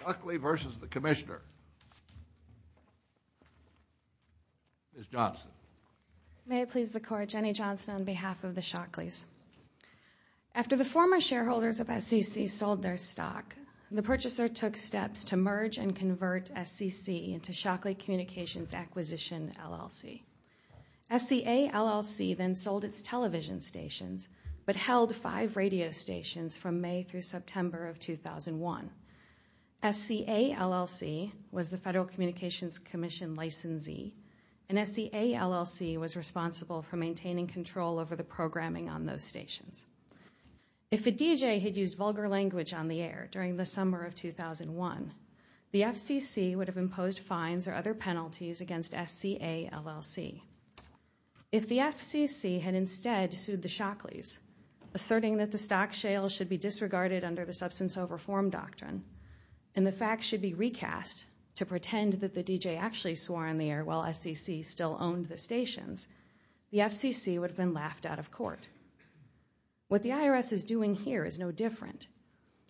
Shockley versus the Commissioner. Ms. Johnson. May it please the Court, Jenny Johnson on behalf of the Shockleys. After the former shareholders of SCC sold their stock, the purchaser took steps to merge and convert SCC into Shockley Communications Acquisition LLC. SCA LLC then sold its television stations but SCA LLC was the Federal Communications Commission licensee and SCA LLC was responsible for maintaining control over the programming on those stations. If a DJ had used vulgar language on the air during the summer of 2001, the FCC would have imposed fines or other penalties against SCA LLC. If the FCC had instead sued the Shockleys, asserting that the stock shale should be disregarded under the substance of reform doctrine and the facts should be recast to pretend that the DJ actually swore on the air while SCC still owned the stations, the FCC would have been laughed out of court. What the IRS is doing here is no different.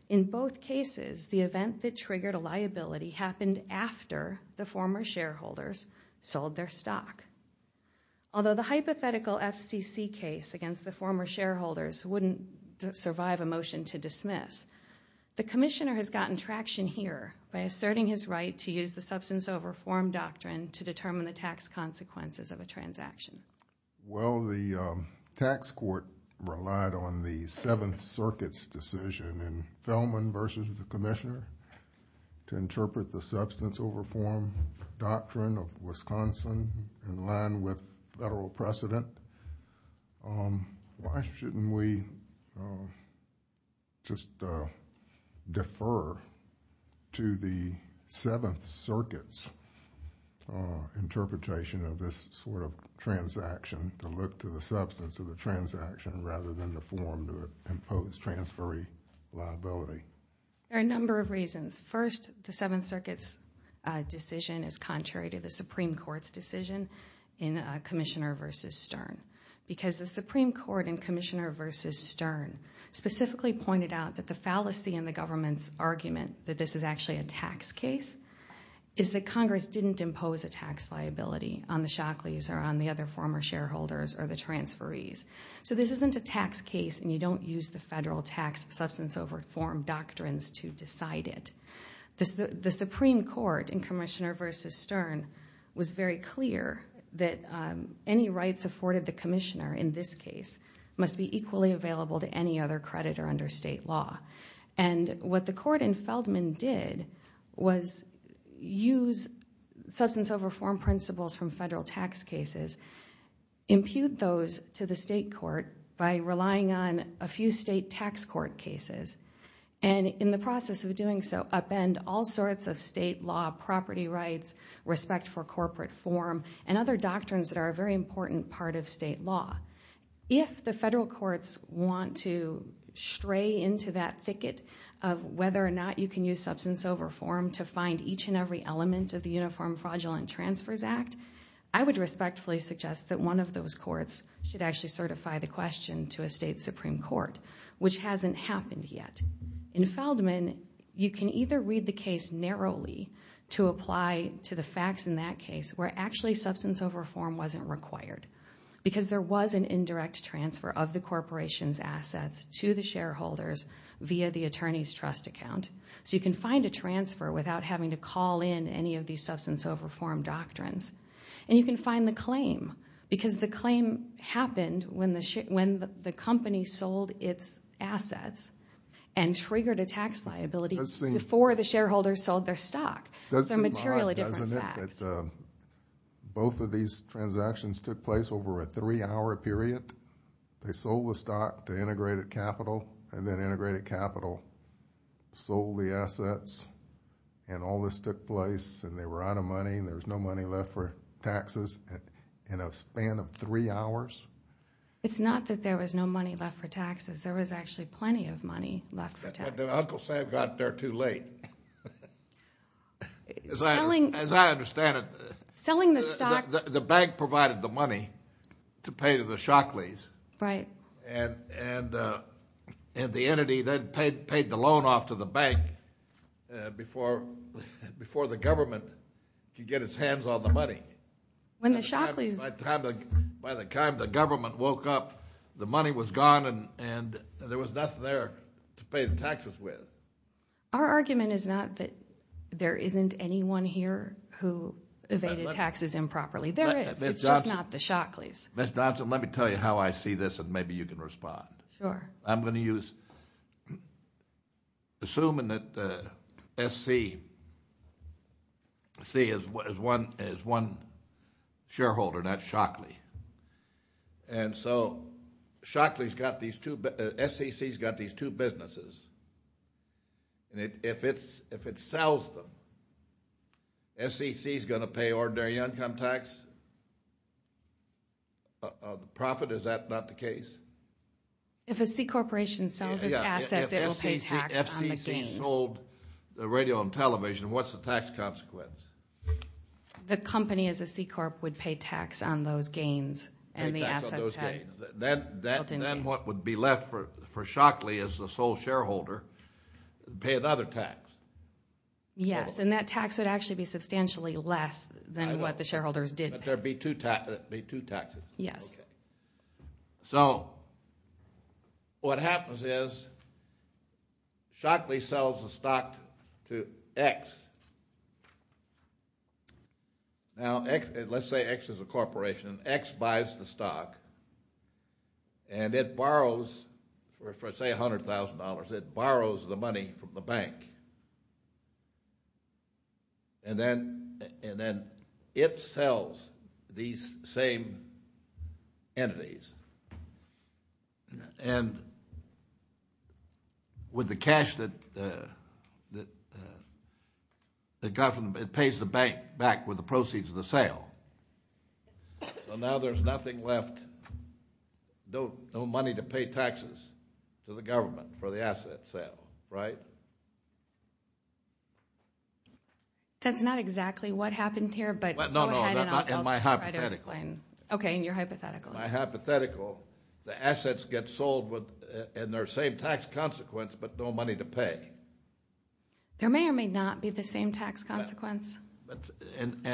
In both cases, the event that triggered a liability happened after the former shareholders sold their stock. Although the hypothetical FCC case against the former shareholders wouldn't survive a motion to dismiss, the Commissioner has gotten traction here by asserting his right to use the substance of reform doctrine to determine the tax consequences of a transaction. Well, the tax court relied on the Seventh Circuit's decision in Fellman versus the Commissioner to interpret the substance over form doctrine of Wisconsin in line with federal precedent. Why shouldn't we just defer to the Seventh Circuit's interpretation of this sort of transaction to look to the substance of the transaction rather than the form to impose transferee liability? There are a number of reasons. First, the Seventh Circuit's decision is contrary to the Commissioner versus Stern because the Supreme Court in Commissioner versus Stern specifically pointed out that the fallacy in the government's argument that this is actually a tax case is that Congress didn't impose a tax liability on the Shockleys or on the other former shareholders or the transferees. So this isn't a tax case and you don't use the federal tax substance over form doctrines to decide it. The Supreme Court in Commissioner versus Stern was very clear that any rights afforded the Commissioner in this case must be equally available to any other creditor under state law. And what the court in Feldman did was use substance over form principles from federal tax cases, impute those to the state court by relying on a few state tax court cases, and in the process of doing so upend all sorts of state law property rights, respect for and other doctrines that are a very important part of state law. If the federal courts want to stray into that thicket of whether or not you can use substance over form to find each and every element of the Uniform Fraudulent Transfers Act, I would respectfully suggest that one of those courts should actually certify the question to a state Supreme Court, which hasn't happened yet. In Feldman, you can either read the case narrowly to apply to the facts in that case, where actually substance over form wasn't required, because there was an indirect transfer of the corporation's assets to the shareholders via the attorney's trust account. So you can find a transfer without having to call in any of these substance over form doctrines. And you can find the claim, because the claim happened when the company sold its assets and triggered a tax liability before the shareholders sold their stock. Doesn't seem odd, doesn't it, that both of these transactions took place over a three-hour period? They sold the stock to integrated capital and then integrated capital sold the assets and all this took place and they were out of money and there was no money left for taxes in a span of three hours? It's not that there was no money left for taxes. There was actually plenty of As I understand it, the bank provided the money to pay to the Shockleys. And the entity then paid the loan off to the bank before the government could get its hands on the money. By the time the government woke up, the money was gone and and there was nothing there to pay And anyone here who evaded taxes improperly? There is, it's just not the Shockleys. Ms. Johnson, let me tell you how I see this and maybe you can respond. I'm going to use, assuming that SCC is one shareholder, and that's Shockley. And so Shockley's got these two, SCC's got these two businesses and if it sells them, SCC's going to pay ordinary income tax? Profit, is that not the case? If a C-corporation sells its assets, it will pay tax on the gains. If SCC sold the radio and television, what's the tax consequence? The company as a C-corp would pay tax on those gains and the assets. Then what would be left for Shockley as the sole shareholder would pay another tax. Yes, and that tax would actually be substantially less than what the shareholders did pay. But there would be two taxes. Yes. So, what happens is Shockley sells the stock to X. Now, let's say X is a corporation. X buys the stock and it borrows, for say $100,000, it borrows the money from the bank. And then it sells these same entities. And with the cash that it got from, it pays the bank back with the proceeds of the sale. So now there's nothing left, no money to pay taxes to the government for the asset sale, right? That's not exactly what happened here, but go ahead and I'll try to explain. No, no, in my hypothetical. Okay, in your hypothetical. In my hypothetical, the assets get sold in their same tax consequence, but no money to pay. There may or may not be the same tax consequence. And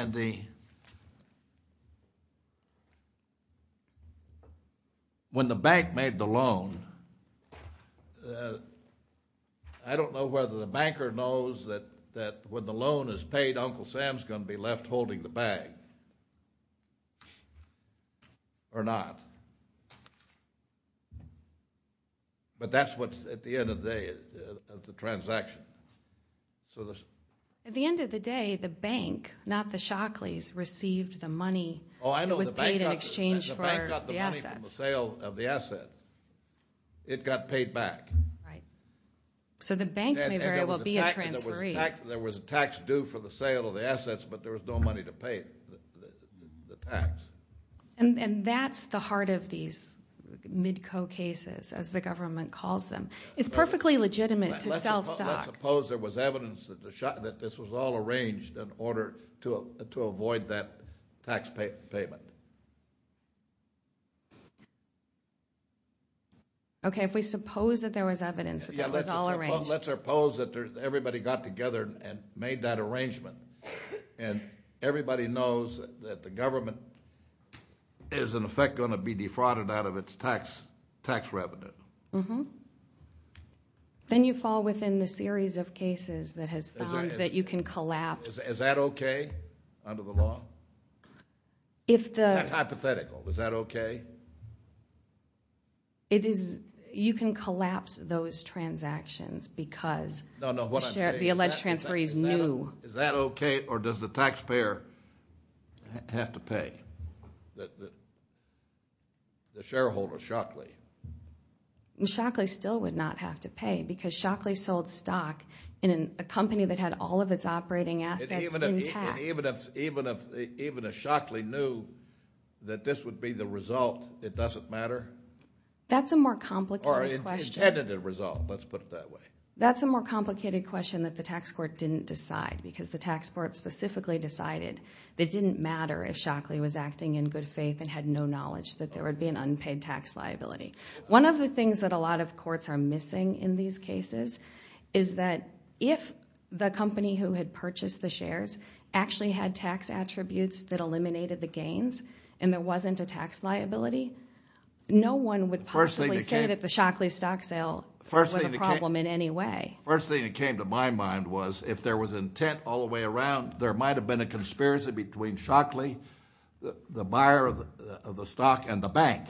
when the bank made the loan, I don't know whether the banker knows that when the loan is paid, Uncle Sam's going to be left holding the bag or not. But that's what, at the end of the day, the transaction. At the end of the day, the bank, not the Shockleys, received the money that was paid in exchange for the assets. And the bank got the money from the sale of the assets. It got paid back. Right. So the bank may very well be a transferee. There was a tax due for the sale of the assets, but there was no money to pay the tax. And that's the heart of these mid-co cases, as the government calls them. It's perfectly legitimate to sell stock. Let's suppose there was evidence that this was all arranged in order to avoid that tax payment. Okay, if we suppose that there was evidence that it was all arranged. Let's suppose that everybody got together and made that arrangement. And everybody knows that the government is, in effect, going to be defrauded out of its tax revenue. Then you fall within the series of cases that has found that you can collapse. Is that okay under the law? Hypothetical. Is that okay? You can collapse those transactions because the alleged transferee is new. Is that okay, or does the taxpayer have to pay the shareholder, Shockley? Shockley still would not have to pay because Shockley sold stock in a company that had all of its operating assets intact. Even if Shockley knew that this would be the result, it doesn't matter? That's a more complicated question. Or intended result, let's put it that way. That's a more complicated question that the tax court didn't decide because the tax court specifically decided that it didn't matter if Shockley was acting in good faith and had no knowledge that there would be an unpaid tax liability. One of the things that a lot of courts are missing in these cases is that if the company who had purchased the shares actually had tax attributes that eliminated the gains and there wasn't a tax liability, no one would possibly say that the Shockley stock sale was a problem in any way. The first thing that came to my mind was if there was intent all the way around, there might have been a conspiracy between Shockley, the buyer of the stock, and the bank.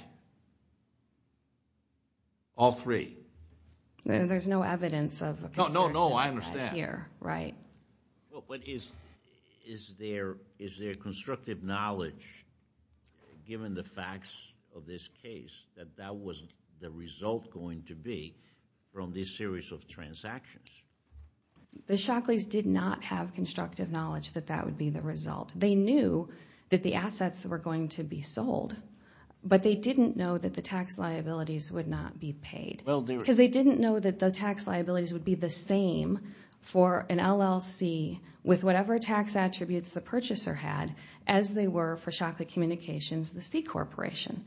All three. No, I understand. Is there constructive knowledge, given the facts of this case, that that wasn't the result going to be from this series of transactions? The Shockleys did not have constructive knowledge that that would be the result. They knew that the assets were going to be sold, but they didn't know that the tax liabilities would not be paid. Because they didn't know that the tax liabilities would be the same for an LLC with whatever tax attributes the purchaser had as they were for Shockley Communications, the C Corporation.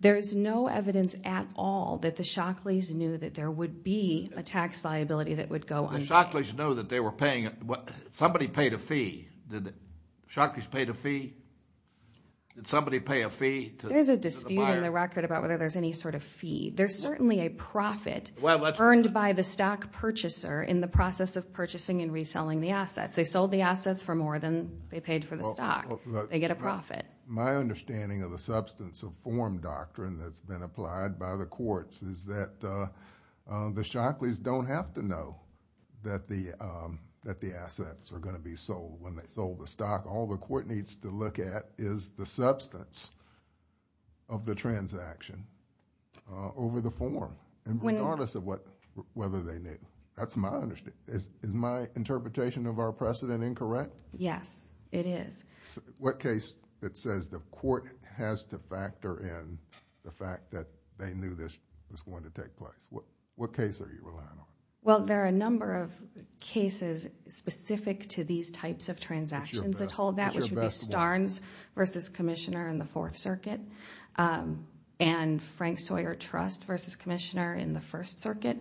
There's no evidence at all that the Shockleys knew that there would be a tax liability that would go unpaid. The Shockleys know that they were paying – somebody paid a fee. Did the Shockleys pay the fee? Did somebody pay a fee to the buyer? There's a dispute in the record about whether there's any sort of fee. There's certainly a profit earned by the stock purchaser in the process of purchasing and reselling the assets. They sold the assets for more than they paid for the stock. They get a profit. My understanding of the substance of form doctrine that's been applied by the courts is that the Shockleys don't have to know that the assets are going to be sold when they sold the stock. All the court needs to look at is the substance of the transaction over the form, regardless of whether they knew. That's my understanding. Is my interpretation of our precedent incorrect? Yes, it is. What case it says the court has to factor in the fact that they knew this was going to take place? What case are you relying on? Well, there are a number of cases specific to these types of transactions. I told that, which would be Starnes v. Commissioner in the Fourth Circuit and Frank Sawyer Trust v. Commissioner in the First Circuit,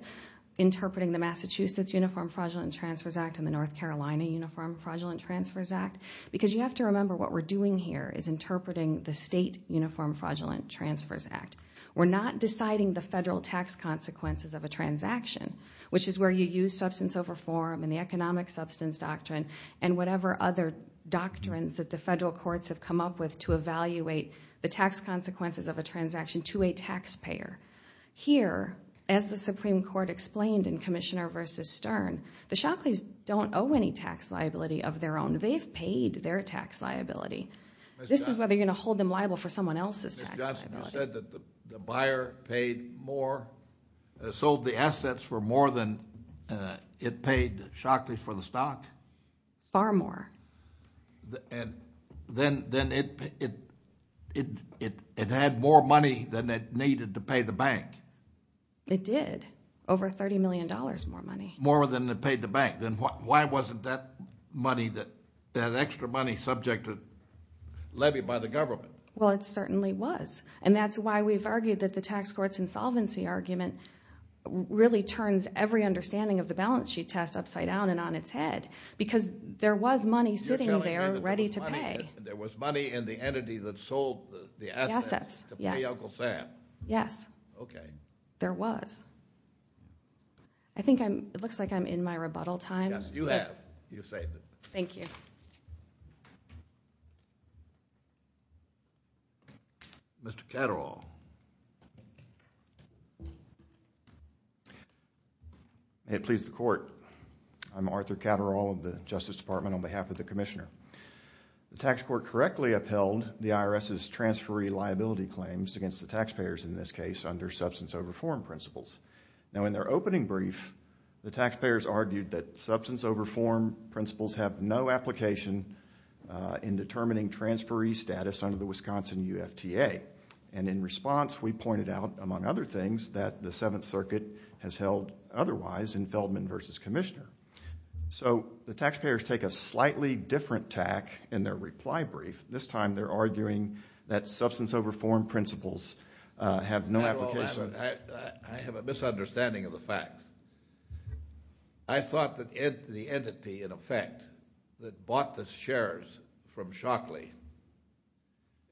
interpreting the Massachusetts Uniform Fraudulent Transfers Act and the North Carolina Uniform Fraudulent Transfers Act. Because you have to remember what we're doing here is interpreting the state Uniform Fraudulent Transfers Act. We're not deciding the federal tax consequences of a transaction, which is where you use substance over form and the economic substance doctrine and whatever other doctrines that the federal courts have come up with to evaluate the tax consequences of a transaction to a taxpayer. Here, as the Supreme Court explained in Commissioner v. Stern, the Shockleys don't owe any tax liability of their own. They've paid their tax liability. This is whether you're going to hold them liable for someone else's tax liability. You said that the buyer paid more, sold the assets for more than it paid Shockleys for the stock? Far more. And then it had more money than it needed to pay the bank? It did, over $30 million more money. More than it paid the bank. Then why wasn't that money, that extra money, subject to levy by the government? Well, it certainly was, and that's why we've argued that the tax court's insolvency argument really turns every understanding of the balance sheet test upside down and on its head, because there was money sitting there ready to pay. There was money in the entity that sold the assets to Uncle Sam? Yes. Okay. There was. It looks like I'm in my rebuttal time. Yes, you have. You've saved it. Thank you. Mr. Catterall. May it please the Court. I'm Arthur Catterall of the Justice Department on behalf of the Commissioner. The tax court correctly upheld the IRS's transferee liability claims against the taxpayers, in this case, under substance over form principles. Now, in their opening brief, the taxpayers argued that substance over form principles have no application in determining transferee status under the Wisconsin UFTA. And in response, we pointed out, among other things, that the Seventh Circuit has held otherwise in Feldman v. Commissioner. So the taxpayers take a slightly different tack in their reply brief. This time they're arguing that substance over form principles have no application. I have a misunderstanding of the facts. I thought that the entity, in effect, that bought the shares from Shockley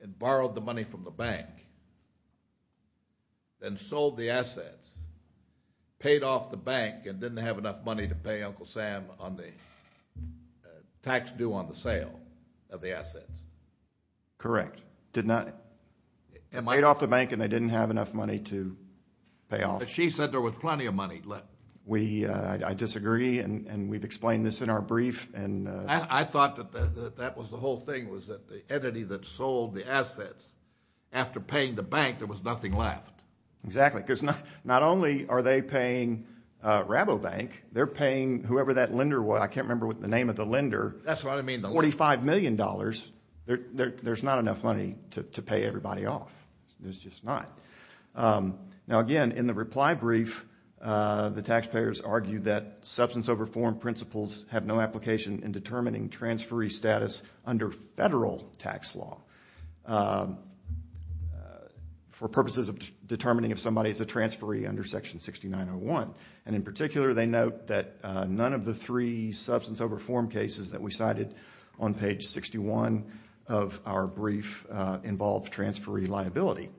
and borrowed the money from the bank and sold the assets, paid off the bank and didn't have enough money to pay Uncle Sam on the tax due on the sale of the assets. Correct. Did not. Am I? Paid off the bank and they didn't have enough money to pay off. But she said there was plenty of money left. I disagree, and we've explained this in our brief. I thought that that was the whole thing, was that the entity that sold the assets, after paying the bank, there was nothing left. Exactly. Because not only are they paying Rabobank, they're paying whoever that lender was. I can't remember the name of the lender. That's what I mean. $45 million. There's not enough money to pay everybody off. There's just not. Now, again, in the reply brief, the taxpayers argue that substance over form principles have no application in determining transferee status under federal tax law for purposes of determining if somebody is a transferee under Section 6901. In particular, they note that none of the three substance over form cases that we cited on page 61 of our brief involve transferee liability.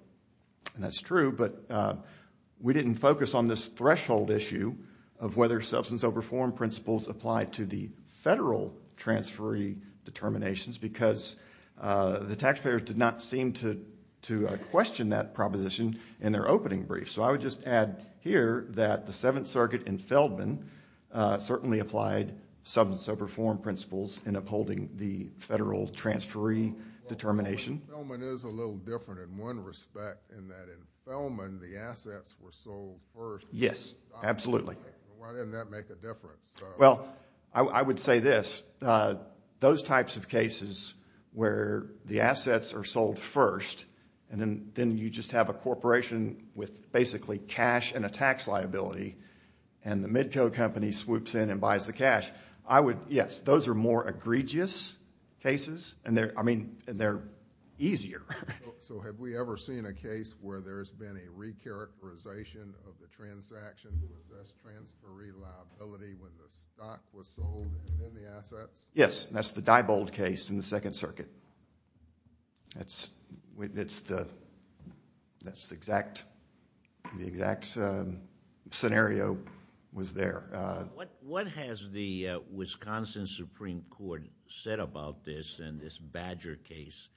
That's true, but we didn't focus on this threshold issue of whether substance over form principles apply to the federal transferee determinations, because the taxpayers did not seem to question that proposition in their opening brief. So I would just add here that the Seventh Circuit in Feldman certainly applied substance over form principles in upholding the federal transferee determination. Feldman is a little different in one respect in that in Feldman the assets were sold first. Yes, absolutely. Why didn't that make a difference? Well, I would say this. Those types of cases where the assets are sold first and then you just have a corporation with basically cash and a tax liability and the mid-code company swoops in and buys the cash, I would, yes, those are more egregious cases and they're easier. So have we ever seen a case where there's been a re-characterization of the transaction to assess transferee liability when the stock was sold and then the assets? Yes, and that's the Diebold case in the Second Circuit. That's the exact scenario was there. What has the Wisconsin Supreme Court said about this and this Badger case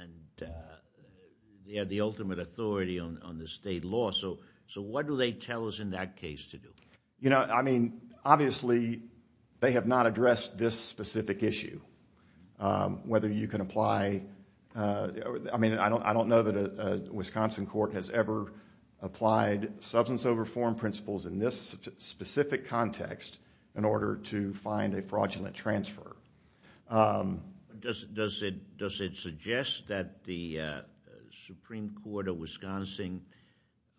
and the ultimate authority on the state law? So what do they tell us in that case to do? You know, I mean, obviously they have not addressed this specific issue, whether you can apply. I mean, I don't know that a Wisconsin court has ever applied substance over form principles in this specific context in order to find a fraudulent transfer. Does it suggest that the Supreme Court of Wisconsin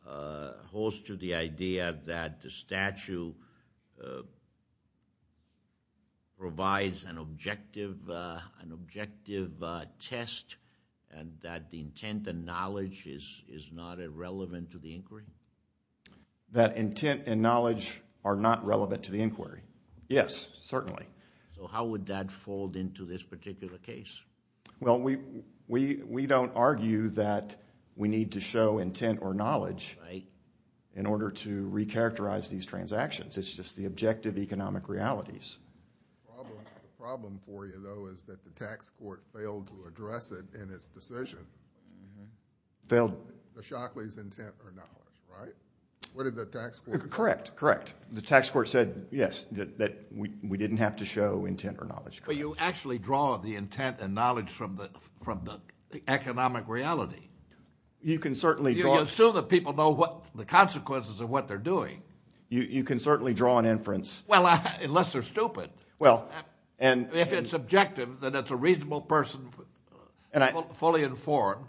holds to the idea that the statute provides an objective test and that the intent and knowledge is not irrelevant to the inquiry? That intent and knowledge are not relevant to the inquiry? Yes, certainly. So how would that fold into this particular case? Well, we don't argue that we need to show intent or knowledge in order to re-characterize these transactions. It's just the objective economic realities. The problem for you, though, is that the tax court failed to address it in its decision. Failed? The Shockley's intent or knowledge, right? What did the tax court say? Correct, correct. The tax court said, yes, that we didn't have to show intent or knowledge. But you actually draw the intent and knowledge from the economic reality. You can certainly draw— You assume that people know the consequences of what they're doing. You can certainly draw an inference. Well, unless they're stupid. Well, and— If it's objective, then it's a reasonable person, fully informed.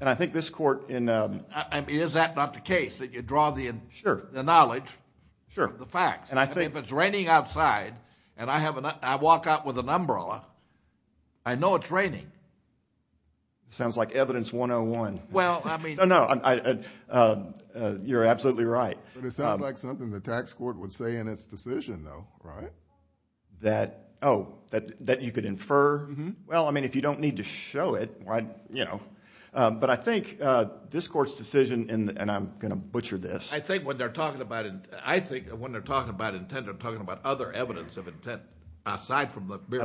And I think this court in— I mean, is that not the case, that you draw the knowledge? Sure. The facts. If it's raining outside and I walk out with an umbrella, I know it's raining. Sounds like evidence 101. Well, I mean— No, no, you're absolutely right. But it sounds like something the tax court would say in its decision, though, right? That, oh, that you could infer? Well, I mean, if you don't need to show it, you know. But I think this court's decision in—and I'm going to butcher this. I think when they're talking about intent, they're talking about other evidence of intent, aside from the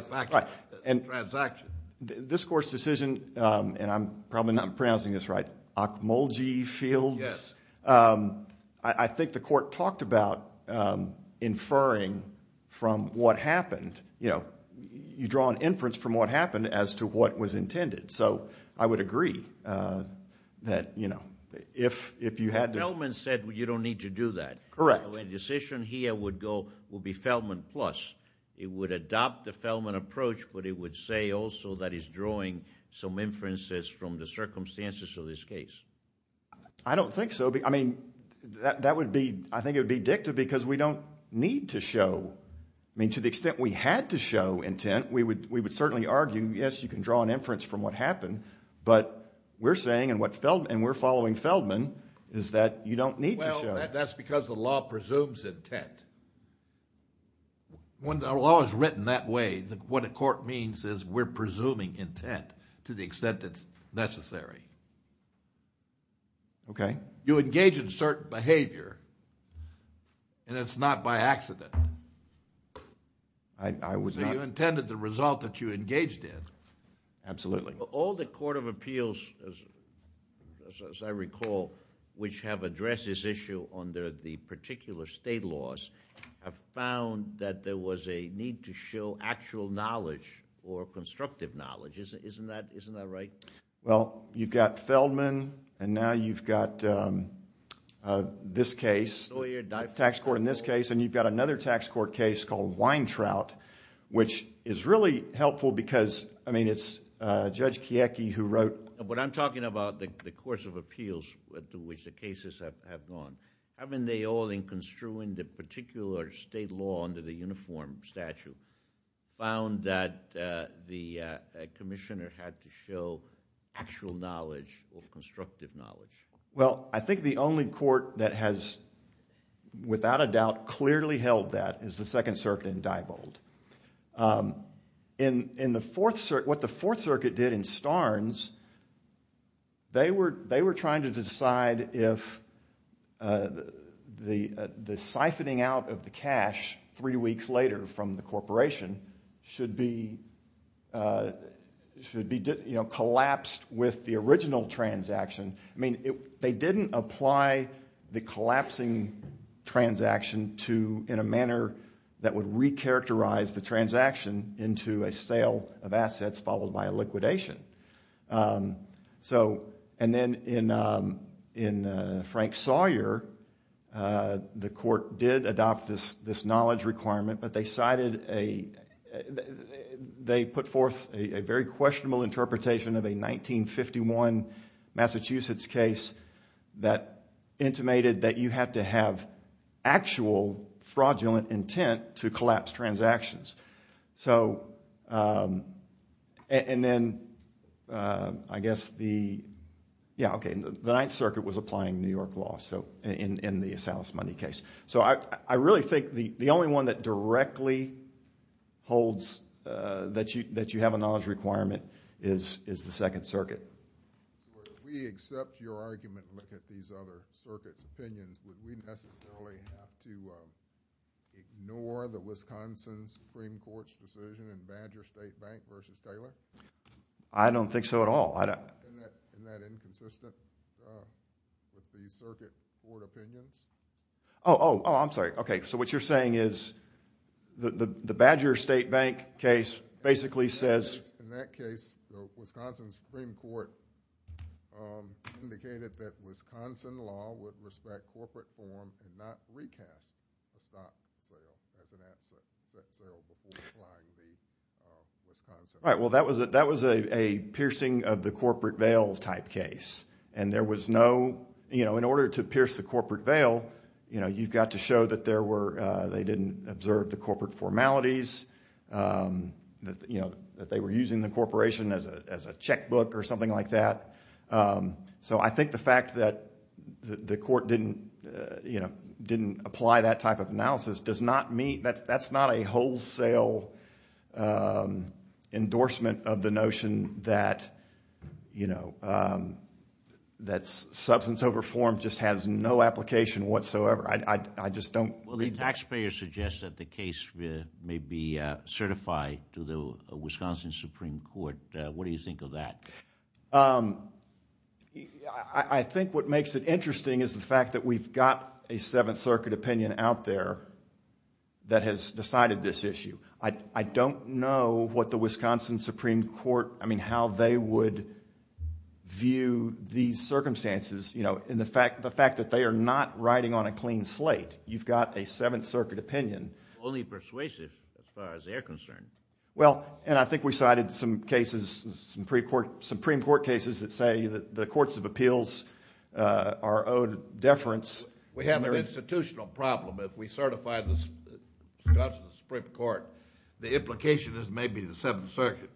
transaction. This court's decision, and I'm probably not pronouncing this right, Okmulgee Fields? Yes. I think the court talked about inferring from what happened. You know, you draw an inference from what happened as to what was intended. So I would agree that, you know, if you had to— Feldman said you don't need to do that. Correct. So a decision here would go—would be Feldman plus. It would adopt the Feldman approach, but it would say also that it's drawing some inferences from the circumstances of this case. I don't think so. I mean, that would be—I think it would be dictative because we don't need to show. I mean, to the extent we had to show intent, we would certainly argue, yes, you can draw an inference from what happened. But we're saying, and we're following Feldman, is that you don't need to show. Well, that's because the law presumes intent. When the law is written that way, what a court means is we're presuming intent to the extent that's necessary. Okay. You engage in certain behavior, and it's not by accident. I would not— So you intended the result that you engaged in. Absolutely. All the court of appeals, as I recall, which have addressed this issue under the particular state laws, have found that there was a need to show actual knowledge or constructive knowledge. Isn't that right? Well, you've got Feldman, and now you've got this case, tax court in this case, and you've got another tax court case called Weintraut, which is really helpful because, I mean, it's Judge Kiecki who wrote— But I'm talking about the course of appeals to which the cases have gone. Haven't they all, in construing the particular state law under the uniform statute, found that the commissioner had to show actual knowledge or constructive knowledge? Well, I think the only court that has, without a doubt, clearly held that is the Second Circuit in Diebold. What the Fourth Circuit did in Starnes, they were trying to decide if the siphoning out of the cash three weeks later from the corporation should be collapsed with the original transaction. I mean, they didn't apply the collapsing transaction in a manner that would recharacterize the transaction into a sale of assets followed by a liquidation. And then in Frank Sawyer, the court did adopt this knowledge requirement, but they put forth a very questionable interpretation of a 1951 Massachusetts case that intimated that you had to have actual fraudulent intent to collapse transactions. So, and then I guess the, yeah, okay, the Ninth Circuit was applying New York law in the Salas Money case. So I really think the only one that directly holds that you have a knowledge requirement is the Second Circuit. So if we accept your argument and look at these other circuits' opinions, would we necessarily have to ignore the Wisconsin Supreme Court's decision in Badger State Bank versus Taylor? I don't think so at all. Isn't that inconsistent with the Circuit Court opinions? Oh, oh, I'm sorry. Okay, so what you're saying is the Badger State Bank case basically says— and not recast a stock sale as an asset sale before applying the Wisconsin law. All right, well, that was a piercing of the corporate veil type case. And there was no, you know, in order to pierce the corporate veil, you know, you've got to show that there were, they didn't observe the corporate formalities, that, you know, that they were using the corporation as a checkbook or something like that. So I think the fact that the court didn't, you know, didn't apply that type of analysis does not meet— that's not a wholesale endorsement of the notion that, you know, that substance over form just has no application whatsoever. I just don't— Well, the taxpayer suggests that the case may be certified to the Wisconsin Supreme Court. What do you think of that? I think what makes it interesting is the fact that we've got a Seventh Circuit opinion out there that has decided this issue. I don't know what the Wisconsin Supreme Court, I mean, how they would view these circumstances, you know, and the fact that they are not riding on a clean slate. You've got a Seventh Circuit opinion. Only persuasive as far as they're concerned. Well, and I think we cited some cases, Supreme Court cases that say that the courts of appeals are owed deference. We have an institutional problem. If we certify the Wisconsin Supreme Court, the implication is maybe the Seventh Circuit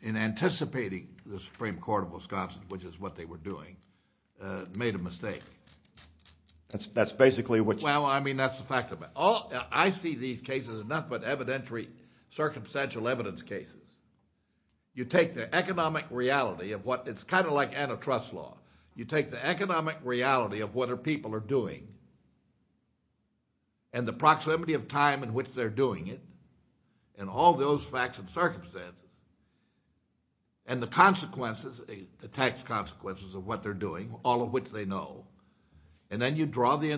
in anticipating the Supreme Court of Wisconsin, which is what they were doing, made a mistake. That's basically what you— Well, I mean, that's the fact of it. I see these cases as nothing but evidentiary circumstantial evidence cases. You take the economic reality of what—it's kind of like antitrust law. You take the economic reality of what people are doing and the proximity of time in which they're doing it and all those facts and circumstances and the consequences, the tax consequences of what they're doing, all of which they know, and then you draw the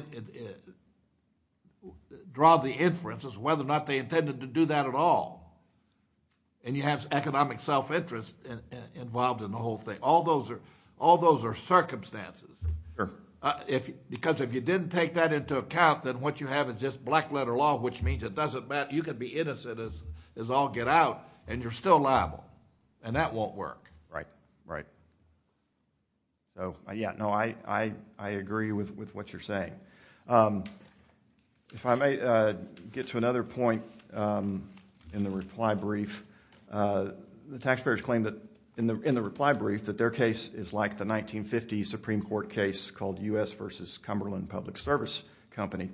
inferences whether or not they intended to do that at all, and you have economic self-interest involved in the whole thing. All those are circumstances. Sure. Because if you didn't take that into account, then what you have is just black-letter law, which means it doesn't matter. You can be innocent as all get out, and you're still liable, and that won't work. Right, right. Yeah, no, I agree with what you're saying. If I may get to another point in the reply brief, the taxpayers claim that in the reply brief that their case is like the 1950 Supreme Court case called U.S. v. Cumberland Public Service Company.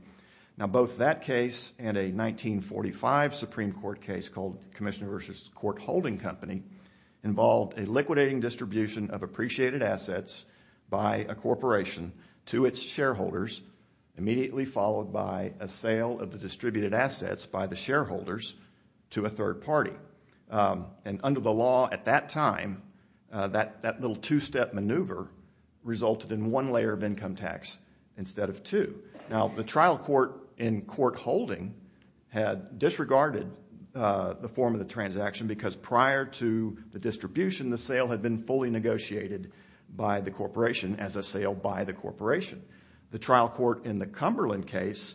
Now, both that case and a 1945 Supreme Court case called Commissioner v. Court Holding Company involved a liquidating distribution of appreciated assets by a corporation to its shareholders, immediately followed by a sale of the distributed assets by the shareholders to a third party. And under the law at that time, that little two-step maneuver resulted in one layer of income tax instead of two. Now, the trial court in Court Holding had disregarded the form of the transaction because prior to the distribution, the sale had been fully negotiated by the corporation as a sale by the corporation. The trial court in the Cumberland case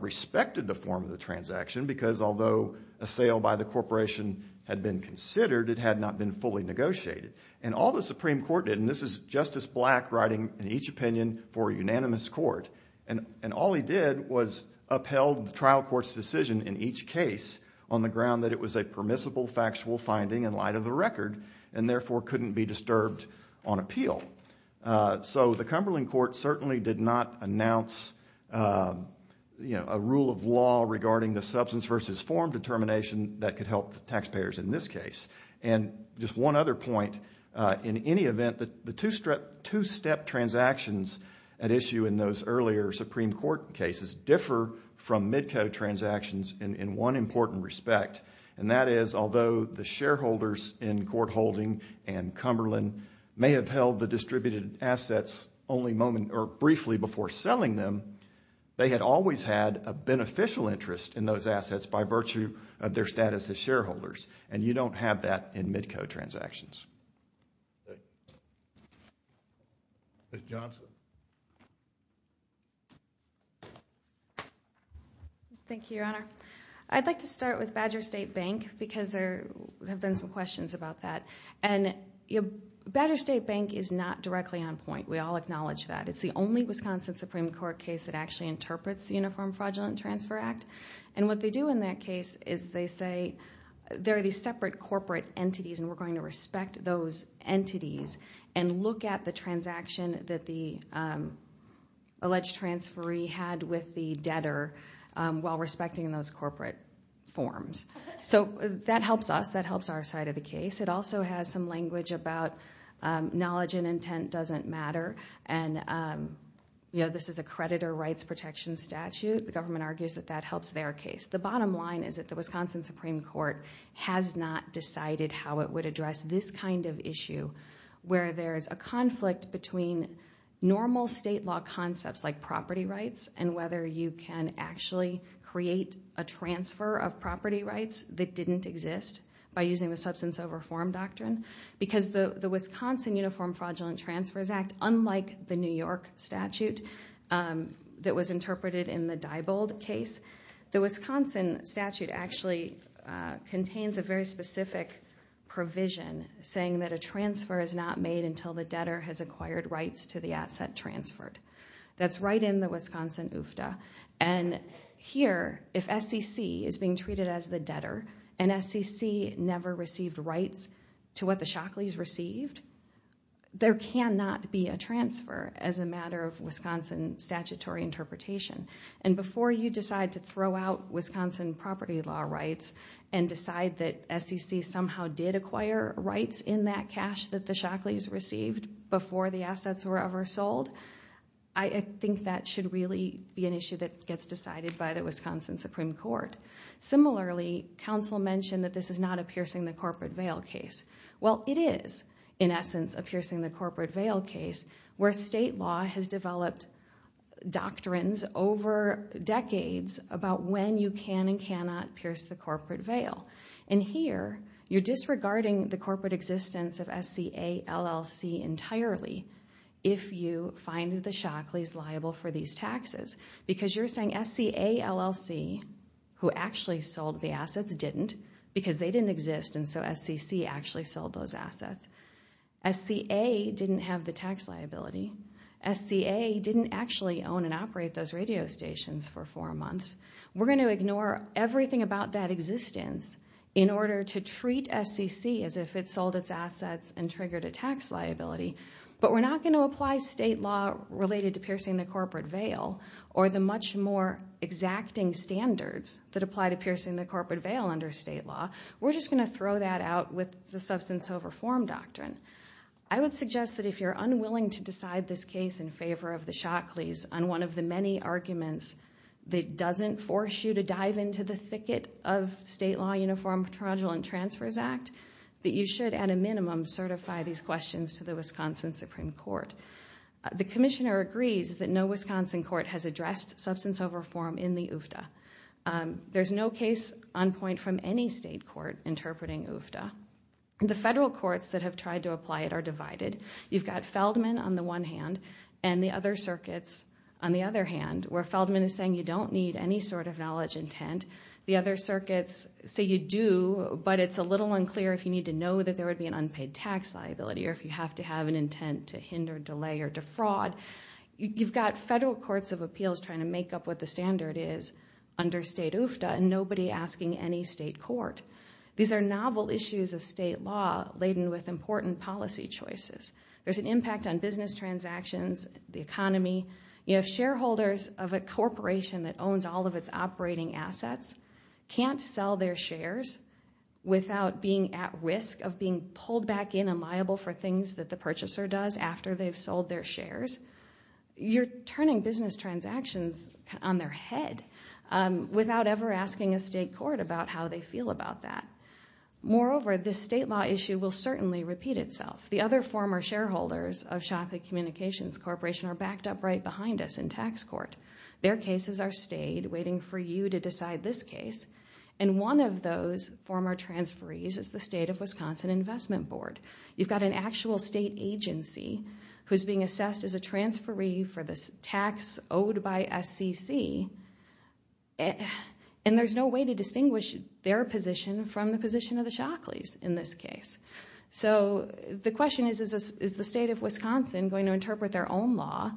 respected the form of the transaction because although a sale by the corporation had been considered, it had not been fully negotiated. And all the Supreme Court did, and this is Justice Black writing in each opinion for a unanimous court, and all he did was upheld the trial court's decision in each case on the ground that it was a permissible factual finding in light of the record and therefore couldn't be disturbed on appeal. So the Cumberland court certainly did not announce, you know, a rule of law regarding the substance versus form determination that could help the taxpayers in this case. And just one other point. In any event, the two-step transactions at issue in those earlier Supreme Court cases differ from mid-code transactions in one important respect, and that is although the shareholders in Court Holding and Cumberland may have held the distributed assets only briefly before selling them, they had always had a beneficial interest in those assets by virtue of their status as shareholders. And you don't have that in mid-code transactions. Ms. Johnson. Thank you, Your Honor. I'd like to start with Badger State Bank because there have been some questions about that. And Badger State Bank is not directly on point. We all acknowledge that. It's the only Wisconsin Supreme Court case that actually interprets the Uniform Fraudulent Transfer Act. And what they do in that case is they say there are these separate corporate entities, and we're going to respect those entities and look at the transaction that the alleged transferee had with the debtor while respecting those corporate forms. So that helps us. That helps our side of the case. It also has some language about knowledge and intent doesn't matter. And, you know, this is a creditor rights protection statute. The government argues that that helps their case. The bottom line is that the Wisconsin Supreme Court has not decided how it would address this kind of issue where there is a conflict between normal state law concepts like property rights and whether you can actually create a transfer of property rights that didn't exist by using the substance of reform doctrine. Because the Wisconsin Uniform Fraudulent Transfers Act, unlike the New York statute that was interpreted in the Diebold case, the Wisconsin statute actually contains a very specific provision saying that a transfer is not made until the debtor has acquired rights to the asset transferred. That's right in the Wisconsin UFTA. And here, if SCC is being treated as the debtor and SCC never received rights to what the Shockleys received, there cannot be a transfer as a matter of Wisconsin statutory interpretation. And before you decide to throw out Wisconsin property law rights and decide that SCC somehow did acquire rights in that cash that the Shockleys received before the assets were ever sold, I think that should really be an issue that gets decided by the Wisconsin Supreme Court. Similarly, counsel mentioned that this is not a piercing the corporate veil case. Well, it is, in essence, a piercing the corporate veil case where state law has developed doctrines over decades about when you can and cannot pierce the corporate veil. And here, you're disregarding the corporate existence of SCA LLC entirely if you find the Shockleys liable for these taxes. Because you're saying SCA LLC, who actually sold the assets, didn't, because they didn't exist and so SCC actually sold those assets. SCA didn't have the tax liability. SCA didn't actually own and operate those radio stations for four months. We're going to ignore everything about that existence in order to treat SCC as if it sold its assets and triggered a tax liability. But we're not going to apply state law related to piercing the corporate veil or the much more exacting standards that apply to piercing the corporate veil under state law. We're just going to throw that out with the substance over form doctrine. I would suggest that if you're unwilling to decide this case in favor of the Shockleys on one of the many arguments that doesn't force you to dive into the thicket of state law, uniform, fraudulent transfers act, that you should, at a minimum, certify these questions to the Wisconsin Supreme Court. The commissioner agrees that no Wisconsin court has addressed substance over form in the UFTA. There's no case on point from any state court interpreting UFTA. The federal courts that have tried to apply it are divided. You've got Feldman on the one hand and the other circuits on the other hand, where Feldman is saying you don't need any sort of knowledge intent. The other circuits say you do, but it's a little unclear if you need to know that there would be an unpaid tax liability or if you have to have an intent to hinder, delay, or defraud. You've got federal courts of appeals trying to make up what the standard is under state UFTA and nobody asking any state court. These are novel issues of state law laden with important policy choices. There's an impact on business transactions, the economy. You have shareholders of a corporation that owns all of its operating assets, can't sell their shares without being at risk of being pulled back in and liable for things that the purchaser does after they've sold their shares. You're turning business transactions on their head without ever asking a state court about how they feel about that. Moreover, this state law issue will certainly repeat itself. The other former shareholders of Shockley Communications Corporation are backed up right behind us in tax court. Their cases are stayed, waiting for you to decide this case, and one of those former transferees is the state of Wisconsin Investment Board. You've got an actual state agency who's being assessed as a transferee for this tax owed by SCC, and there's no way to distinguish their position from the position of the Shockleys in this case. So the question is, is the state of Wisconsin going to interpret their own law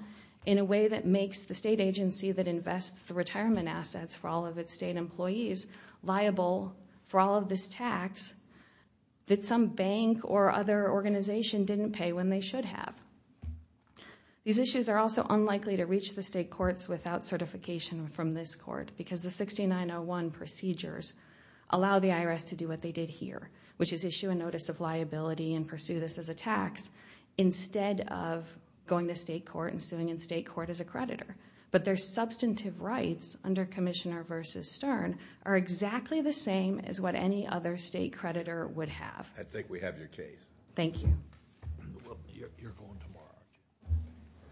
in a way that makes the state agency that invests the retirement assets for all of its state employees liable for all of this tax that some bank or other organization didn't pay when they should have? These issues are also unlikely to reach the state courts without certification from this court because the 6901 procedures allow the IRS to do what they did here, which is issue a notice of liability and pursue this as a tax instead of going to state court and suing in state court as a creditor. But their substantive rights under Commissioner v. Stern are exactly the same as what any other state creditor would have. I think we have your case. Thank you. You're going tomorrow, aren't you?